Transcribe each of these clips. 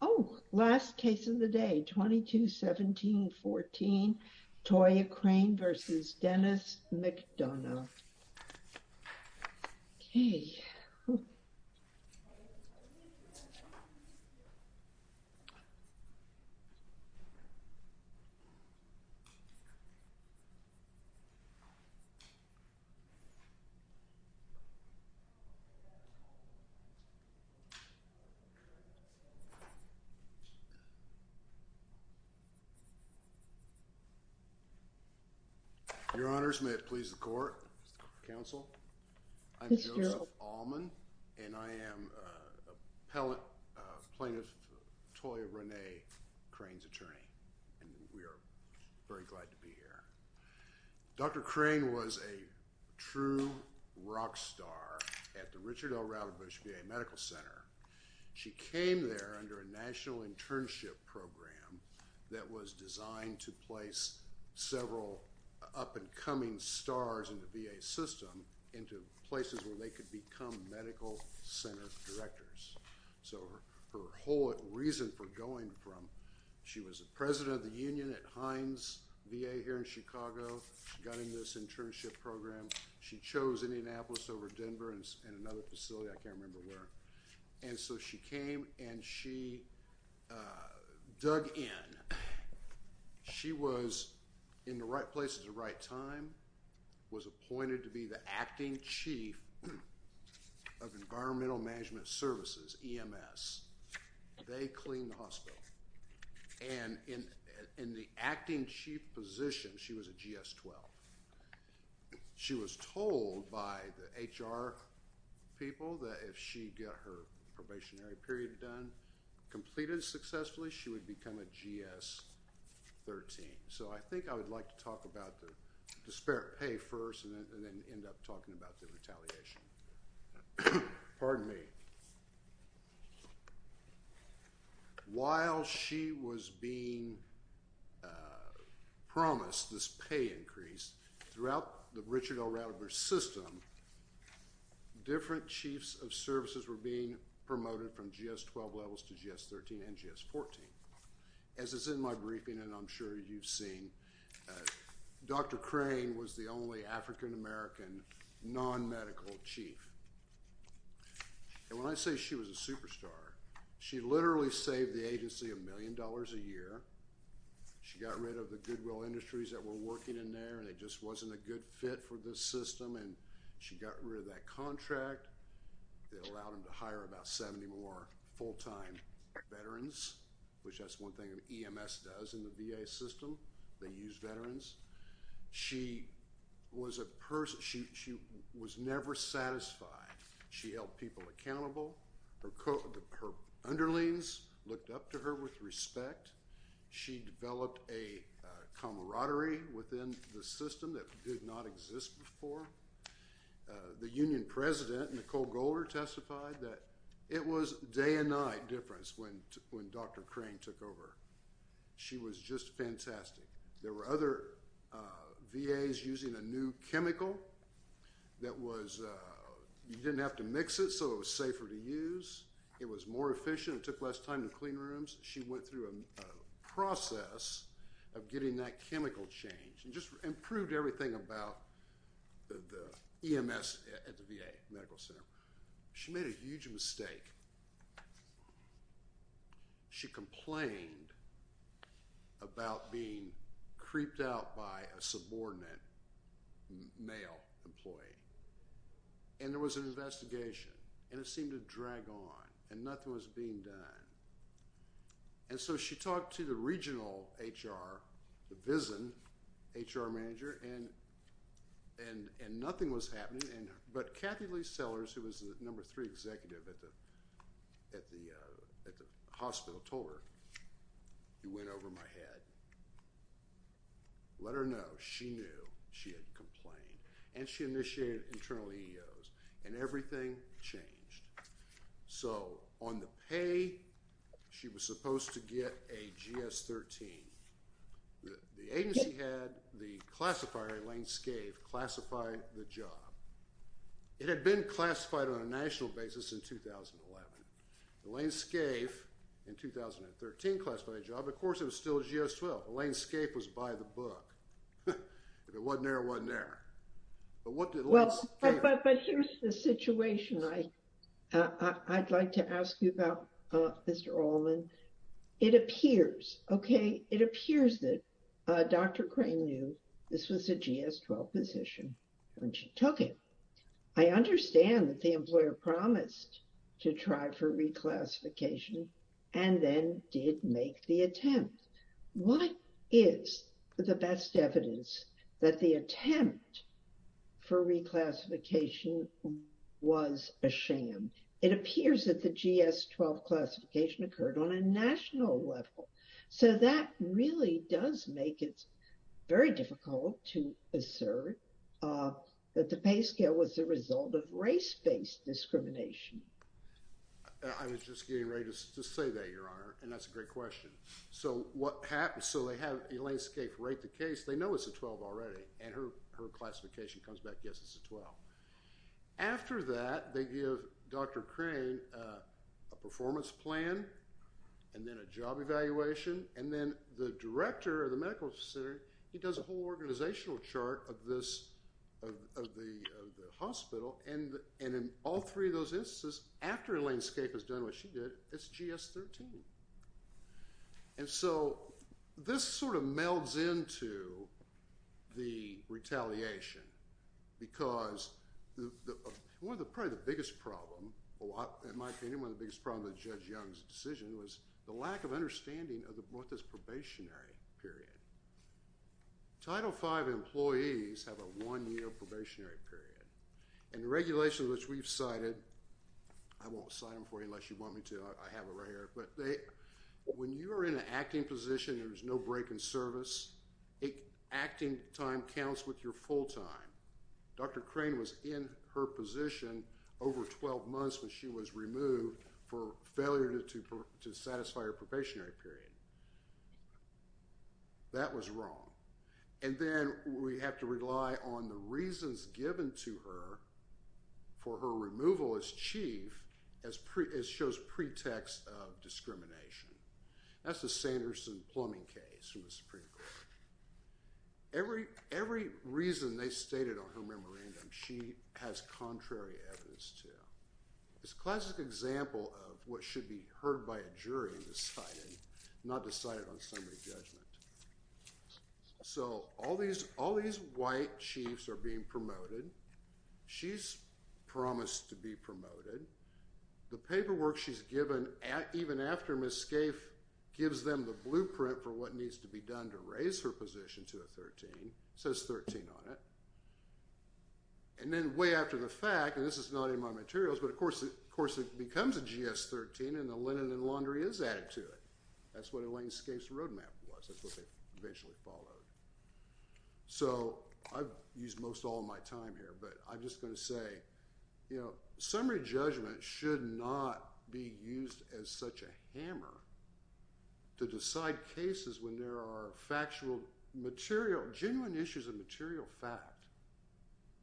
Oh, last case of the day, 22-17-14, Toya Crain v. Denis McDonough. Okay. Your Honors, may it please the court, counsel, I'm Joseph Allman, and I am a plaintiff, Toya Renee Crain's attorney, and we are very glad to be here. Dr. Crain was a true rock star at the Richard L. Ratherbush VA Medical Center. She came there under a national internship program that was designed to place several up-and-coming stars in the VA system into places where they could become medical center directors. So her whole reason for going from, she was a president of the union at Heinz VA here in Chicago, got in this internship program, she chose Indianapolis over Denver in another facility, I can't And so she came and she dug in. She was in the right place at the right time, was appointed to be the acting chief of Environmental Management Services, EMS. They cleaned the hospital, and in the acting chief position, she was a GS-12. She was told by the HR people that if she got her probationary period done, completed successfully, she would become a GS-13. So I think I would like to talk about the disparate pay first, and then end up talking about the retaliation. Pardon me. While she was being promised this pay increase throughout the Richard L. Ratherbush system, different chiefs of services were being promoted from GS-12 levels to GS-13 and GS-14. As is in my briefing, and I'm sure you've seen, Dr. medical chief. And when I say she was a superstar, she literally saved the agency a million dollars a year. She got rid of the goodwill industries that were working in there, and it just wasn't a good fit for this system. And she got rid of that contract that allowed him to hire about 70 more full-time veterans, which that's one thing EMS does in the VA system. They use veterans. She was a person. She was never satisfied. She held people accountable. Her underlings looked up to her with respect. She developed a camaraderie within the system that did not exist before. The union president, Nicole Golder, testified that it was day and night difference when when Dr. Crane took over. She was just fantastic. There were other VAs using a new chemical that was, you didn't have to mix it, so it was safer to use. It was more efficient. It took less time to clean rooms. She went through a process of getting that chemical change and just improved everything about the EMS at the VA Medical Center. She made a about being creeped out by a subordinate male employee. And there was an investigation, and it seemed to drag on, and nothing was being done. And so she talked to the regional HR, the VISN HR manager, and nothing was happening. But Kathy Lee Sellers, who was the number three executive at the hospital, told her, it went over my head. Let her know. She knew. She had complained, and she initiated internal EEOs, and everything changed. So on the pay, she was supposed to get a GS-13. The agency had the classifier, Elaine Scaife, classify the job. It had been classified on a national basis in 2011. Elaine Scaife, in 2013, classified a job. Of course, it was still a GS-12. Elaine Scaife was by the book. If it wasn't there, it wasn't there. But what did Elaine Scaife do? Well, but here's the situation I'd like to ask you about, Mr. Allman. It appears, okay, it appears that Dr. Crane knew this was a GS-12 position when she took it. I understand that the employer promised to try for reclassification and then did make the attempt. What is the best evidence that the attempt for reclassification was a sham? It appears that the GS-12 classification occurred on a national level. So that really does make it very difficult to assert that the pay scale was the result of race-based discrimination. I was just getting ready to say that, Your Honor, and that's a great question. So what happened, so they have Elaine Scaife write the case. They know it's a 12 already, and her classification comes back, yes, it's a 12. After that, they give Dr. Crane a performance plan, and then a job evaluation, and then the director of the hospital, and in all three of those instances, after Elaine Scaife has done what she did, it's GS-13. And so this sort of melds into the retaliation, because one of the, probably the biggest problem, in my opinion, one of the biggest problems with Judge Young's decision was the lack of understanding of what this probationary period, and the regulations which we've cited, I won't sign them for you unless you want me to, I have it right here, but when you are in an acting position, there's no break in service, acting time counts with your full time. Dr. Crane was in her position over 12 months when she was removed for failure to satisfy her probationary period. That was wrong, and then we have to rely on the reasons given to her for her removal as chief as shows pretext of discrimination. That's the Sanderson plumbing case from the Supreme Court. Every reason they stated on her memorandum, she has contrary evidence to. It's a classic example of what should be heard by a jury in deciding, not decided on somebody's judgment. So all these white chiefs are being promoted. She's promised to be promoted. The paperwork she's given, even after Ms. Scaife gives them the blueprint for what needs to be done to raise her position to a 13, says 13 on it, and then way after the fact, and this is not in my materials, but of course it becomes a GS-13, and the linen and laundry is added to it. That's what Elaine Scaife's roadmap was. That's what they eventually followed. So I've used most all my time here, but I'm just going to say, you know, summary judgment should not be used as such a hammer to decide cases when there are factual, material, genuine issues of material fact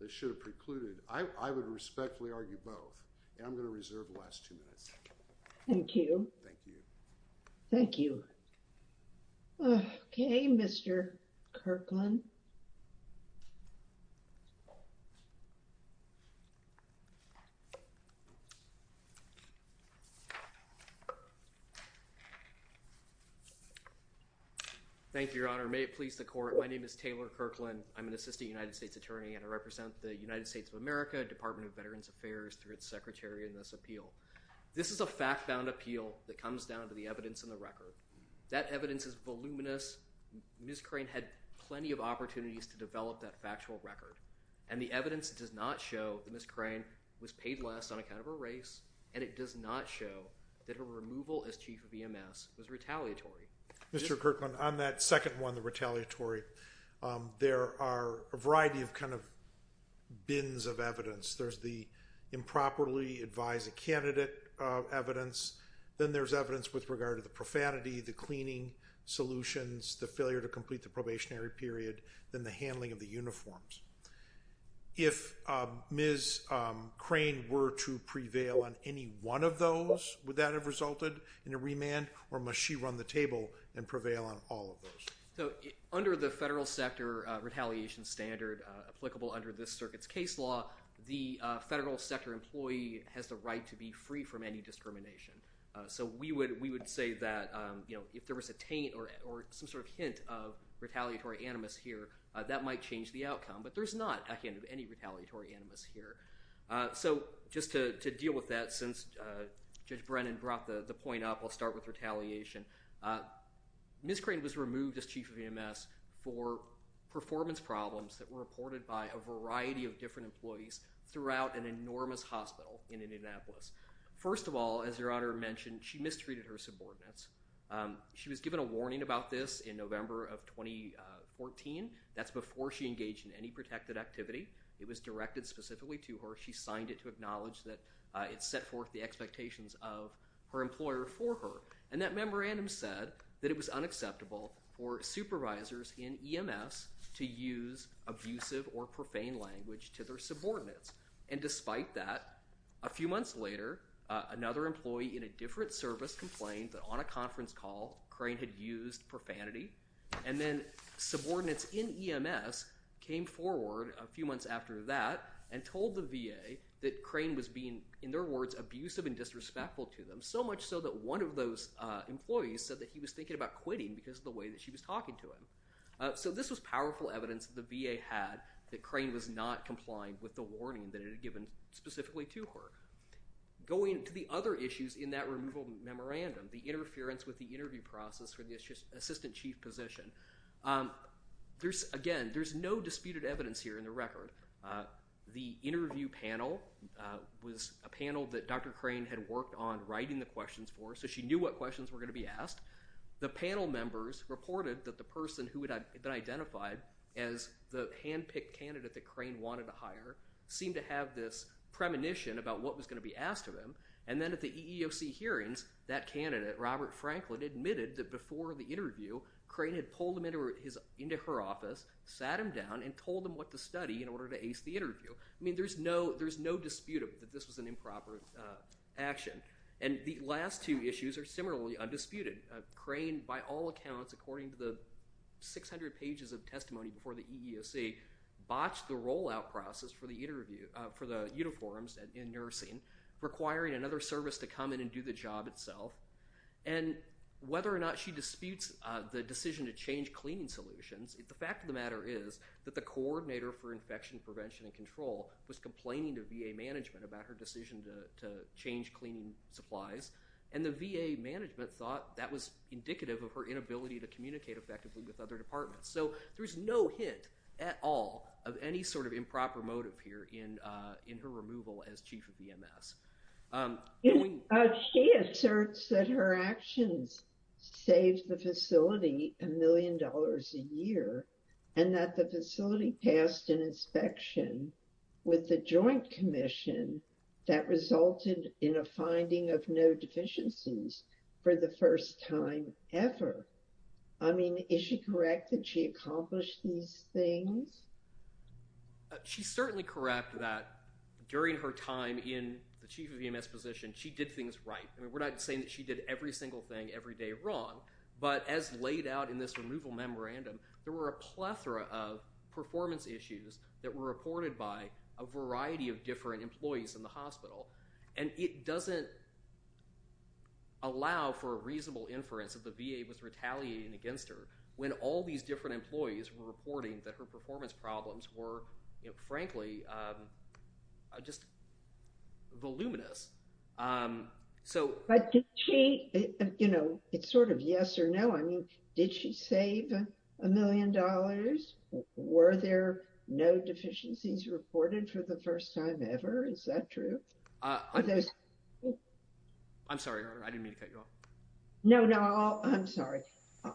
that should have precluded. I would respectfully argue both, and I'm going to reserve the last two minutes. Thank you. Thank you. Thank you. Okay, Mr. Kirkland. Thank you, Your Honor. May it please the court. My name is Taylor Kirkland. I'm an assistant United States attorney, and I represent the United States of America Department of Veterans Affairs through its secretary in this appeal. This is a fact-found appeal that comes down to the evidence in the record. That evidence is voluminous. Ms. Crane had plenty of opportunities to develop that factual record, and the evidence does not show that Ms. Crane was paid less on account of her race, and it does not show that her removal as chief of EMS was retaliatory. Mr. Kirkland, on that second one, the retaliatory, there are a variety of kind of bins of evidence. There's the improperly advised a candidate evidence, then there's evidence with regard to the profanity, the cleaning solutions, the failure to complete the probationary period, then the handling of the uniforms. If Ms. Crane were to prevail on any one of those, would that have resulted in a remand, or must she run the table and prevail on all of those? So under the federal sector retaliation standard applicable under this circuit's case law, the federal sector employee has the right to be freed from any discrimination. So we would say that if there was a taint or some sort of hint of retaliatory animus here, that might change the outcome, but there's not a hint of any retaliatory animus here. So just to deal with that, since Judge Brennan brought the point up, I'll start with retaliation. Ms. Crane was removed as chief of EMS for performance problems that were reported by a variety of different employees throughout an enormous hospital in Indianapolis. First of all, as Your Honor mentioned, she mistreated her subordinates. She was given a warning about this in November of 2014. That's before she engaged in any protected activity. It was directed specifically to her. She signed it to her employer for her, and that memorandum said that it was unacceptable for supervisors in EMS to use abusive or profane language to their subordinates, and despite that, a few months later, another employee in a different service complained that on a conference call, Crane had used profanity, and then subordinates in EMS came forward a few months after that and told the VA that so much so that one of those employees said that he was thinking about quitting because of the way that she was talking to him. So this was powerful evidence the VA had that Crane was not complying with the warning that it had given specifically to her. Going to the other issues in that removal memorandum, the interference with the interview process for the assistant chief position, there's, again, there's no disputed evidence here in the record. The interview panel was a panel that Dr. Crane had worked on writing the questions for, so she knew what questions were going to be asked. The panel members reported that the person who had been identified as the hand-picked candidate that Crane wanted to hire seemed to have this premonition about what was going to be asked of him, and then at the EEOC hearings, that candidate, Robert Franklin, admitted that before the interview, Crane had pulled him into her office, sat him down, and told him what to study in order to ace the interview. I know there's no dispute that this was an improper action, and the last two issues are similarly undisputed. Crane, by all accounts, according to the 600 pages of testimony before the EEOC, botched the rollout process for the interview for the uniforms and in nursing, requiring another service to come in and do the job itself, and whether or not she disputes the decision to change cleaning solutions, the fact of the matter is that the coordinator for cleaning to VA management about her decision to change cleaning supplies, and the VA management thought that was indicative of her inability to communicate effectively with other departments, so there's no hint at all of any sort of improper motive here in in her removal as chief of VMS. She asserts that her actions saved the facility a million dollars a year, and that the facility passed an inspection with the Joint Commission that resulted in a finding of no deficiencies for the first time ever. I mean, is she correct that she accomplished these things? She's certainly correct that during her time in the chief of VMS position, she did things right. I mean, we're not saying that she did every single thing every day wrong, but as laid out in this removal memorandum, there were a plethora of performance issues that were reported by a variety of different employees in the hospital, and it doesn't allow for a reasonable inference that the VA was retaliating against her when all these different employees were reporting that her performance problems were, frankly, just voluminous. But did she, you know, it's sort of yes or no. I mean, did she save a million dollars? Were there no deficiencies reported for the first time ever? Is that true? I'm sorry, I didn't mean to cut you off. No, no, I'm sorry.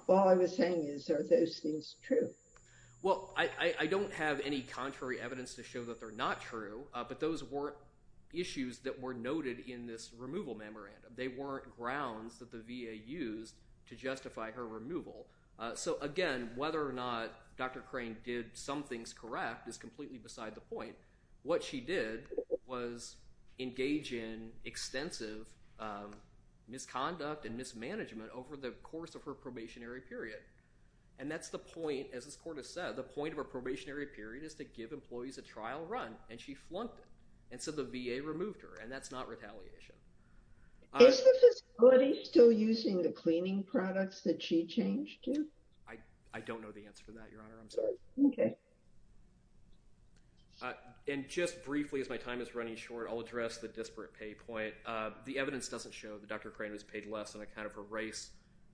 All I was saying is, are those things true? Well, I don't have any contrary evidence to show that they're not true, but those were issues that were noted in this removal memorandum. They weren't grounds that the VA used to justify her removal. So again, whether or not Dr. Crane did some things correct is completely beside the point. What she did was engage in extensive misconduct and mismanagement over the course of her probationary period, and that's the point, as this court has said, the point of a probationary period is to give employees a trial run, and she flunked it, and so the VA removed her, and that's not retaliation. Is the facility still using the cleaning products that she changed to? I don't know the answer to that, Your Honor. I'm sorry. Okay. And just briefly, as my time is running short, I'll address the disparate pay point. The evidence doesn't show that Dr. Crane was paid less on account of her race.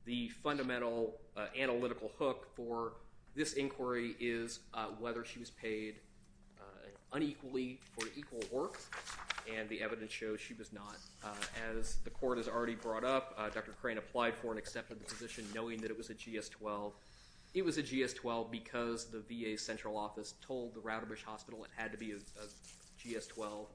The fundamental analytical hook for this inquiry is whether she was paid unequally for equal work, and the evidence shows she was not. As the court has already brought up, Dr. Crane applied for and accepted the position knowing that it was a GS-12. It was a GS-12 because the VA central office told the Ratterbush Hospital it had to be a GS-12.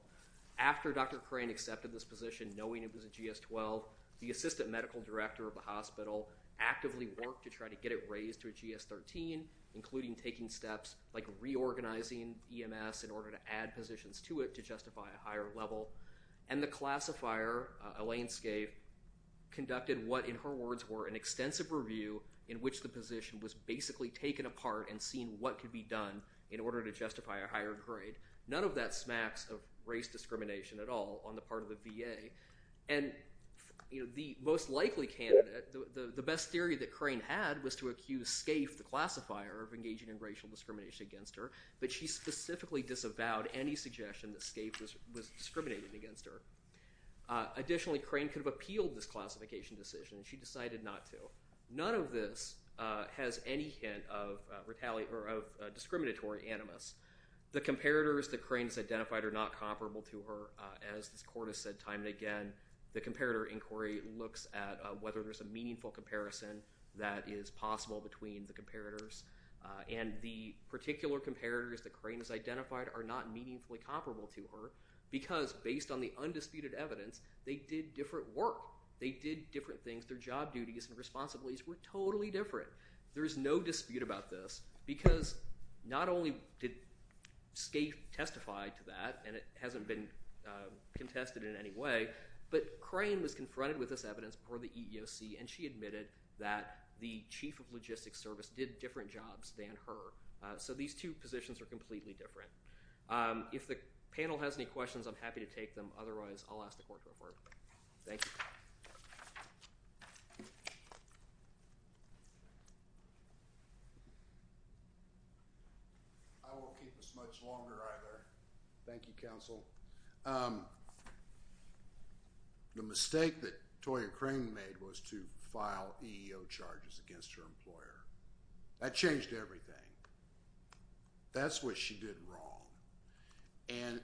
After Dr. Crane accepted this position knowing it was a GS-12, the assistant medical director of the hospital actively worked to try to get it raised to a GS-13, including taking steps like reorganizing EMS in order to add positions to it to justify a higher level, and the classifier, Elaine Scaife, conducted what in her words were an extensive review in which the position was basically taken apart and seen what could be done in order to justify a higher grade. None of that smacks of race discrimination at all on the part of the VA, and the most likely candidate, the best theory that Crane had was to accuse Scaife, the classifier of engaging in racial discrimination against her, but she specifically disavowed any suggestion that Scaife was discriminating against her. Additionally, Crane could have appealed this classification decision, and she decided not to. None of this has any hint of retaliation or of discriminatory animus. The comparators that Crane's identified are not comparable to her, as this court has said time and again. The comparator inquiry looks at whether there's a meaningful comparison that is possible between the comparators, and the particular comparators that Crane has identified are not meaningfully comparable to her because, based on the undisputed evidence, they did different work. They did different things. Their job duties and responsibilities were totally different. There's no dispute about this because not only did Scaife testify to that, and it hasn't been contested in any way, but Crane was confronted with this evidence for the EEOC, and she admitted that the Chief of Logistics Service did different jobs than her. So these two positions are completely different. If the panel has any questions, I'm happy to take them. Otherwise, I'll ask the court to reform it. Thank you. I won't keep this much longer either. Thank you, counsel. The mistake that Toya Crane made was to file EEO charges against her employer. That changed everything. That's what she did wrong.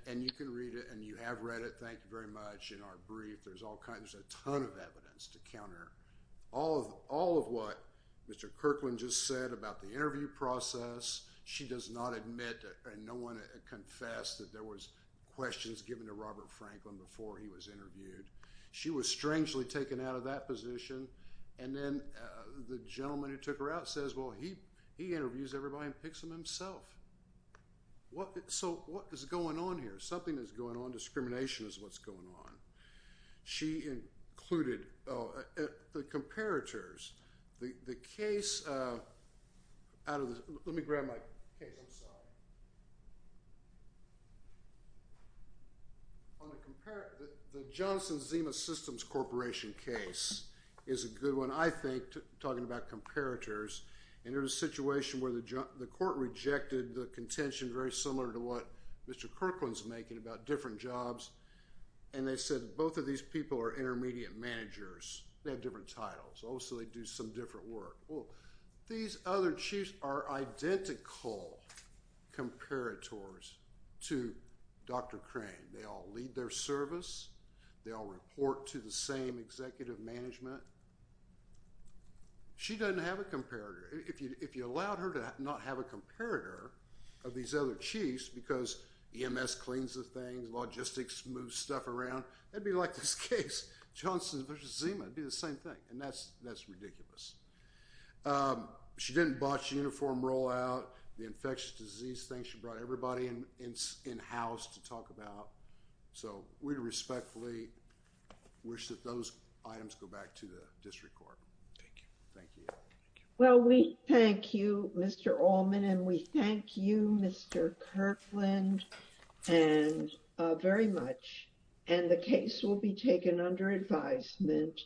And you can read it, and you have read it. Thank you very much. In our brief, there's a ton of evidence to counter all of what Mr. Kirkland just said about the interview process. She does not admit, and no one confessed that there was questions given to Robert Franklin before he was interviewed. She was strangely taken out of that position, and then the gentleman who took her out says, well, he interviews everybody and picks them himself. So what is going on here? Something is going on. Discrimination is what's going on. She included the comparators. The case out of the—let me grab my case. I'm sorry. The Johnson Zima Systems Corporation case is a good one, I think, talking about comparators. And there was a situation where the court rejected the contention very similar to what Mr. Kirkland said. And they said both of these people are intermediate managers. They have different titles. Also, they do some different work. Well, these other chiefs are identical comparators to Dr. Crane. They all lead their service. They all report to the same executive management. She doesn't have a comparator. If you allowed her to not have a comparator of these other chiefs because EMS cleans the things, logistics moves stuff around, that would be like this case, Johnson versus Zima. It would be the same thing. And that's ridiculous. She didn't botch uniform rollout, the infectious disease thing. She brought everybody in house to talk about. So we respectfully wish that those items go back to the district court. Thank you. Well, we thank you, Mr. Allman, and we thank you, Mr. Kirkland, very much. And the case will be taken under advisement.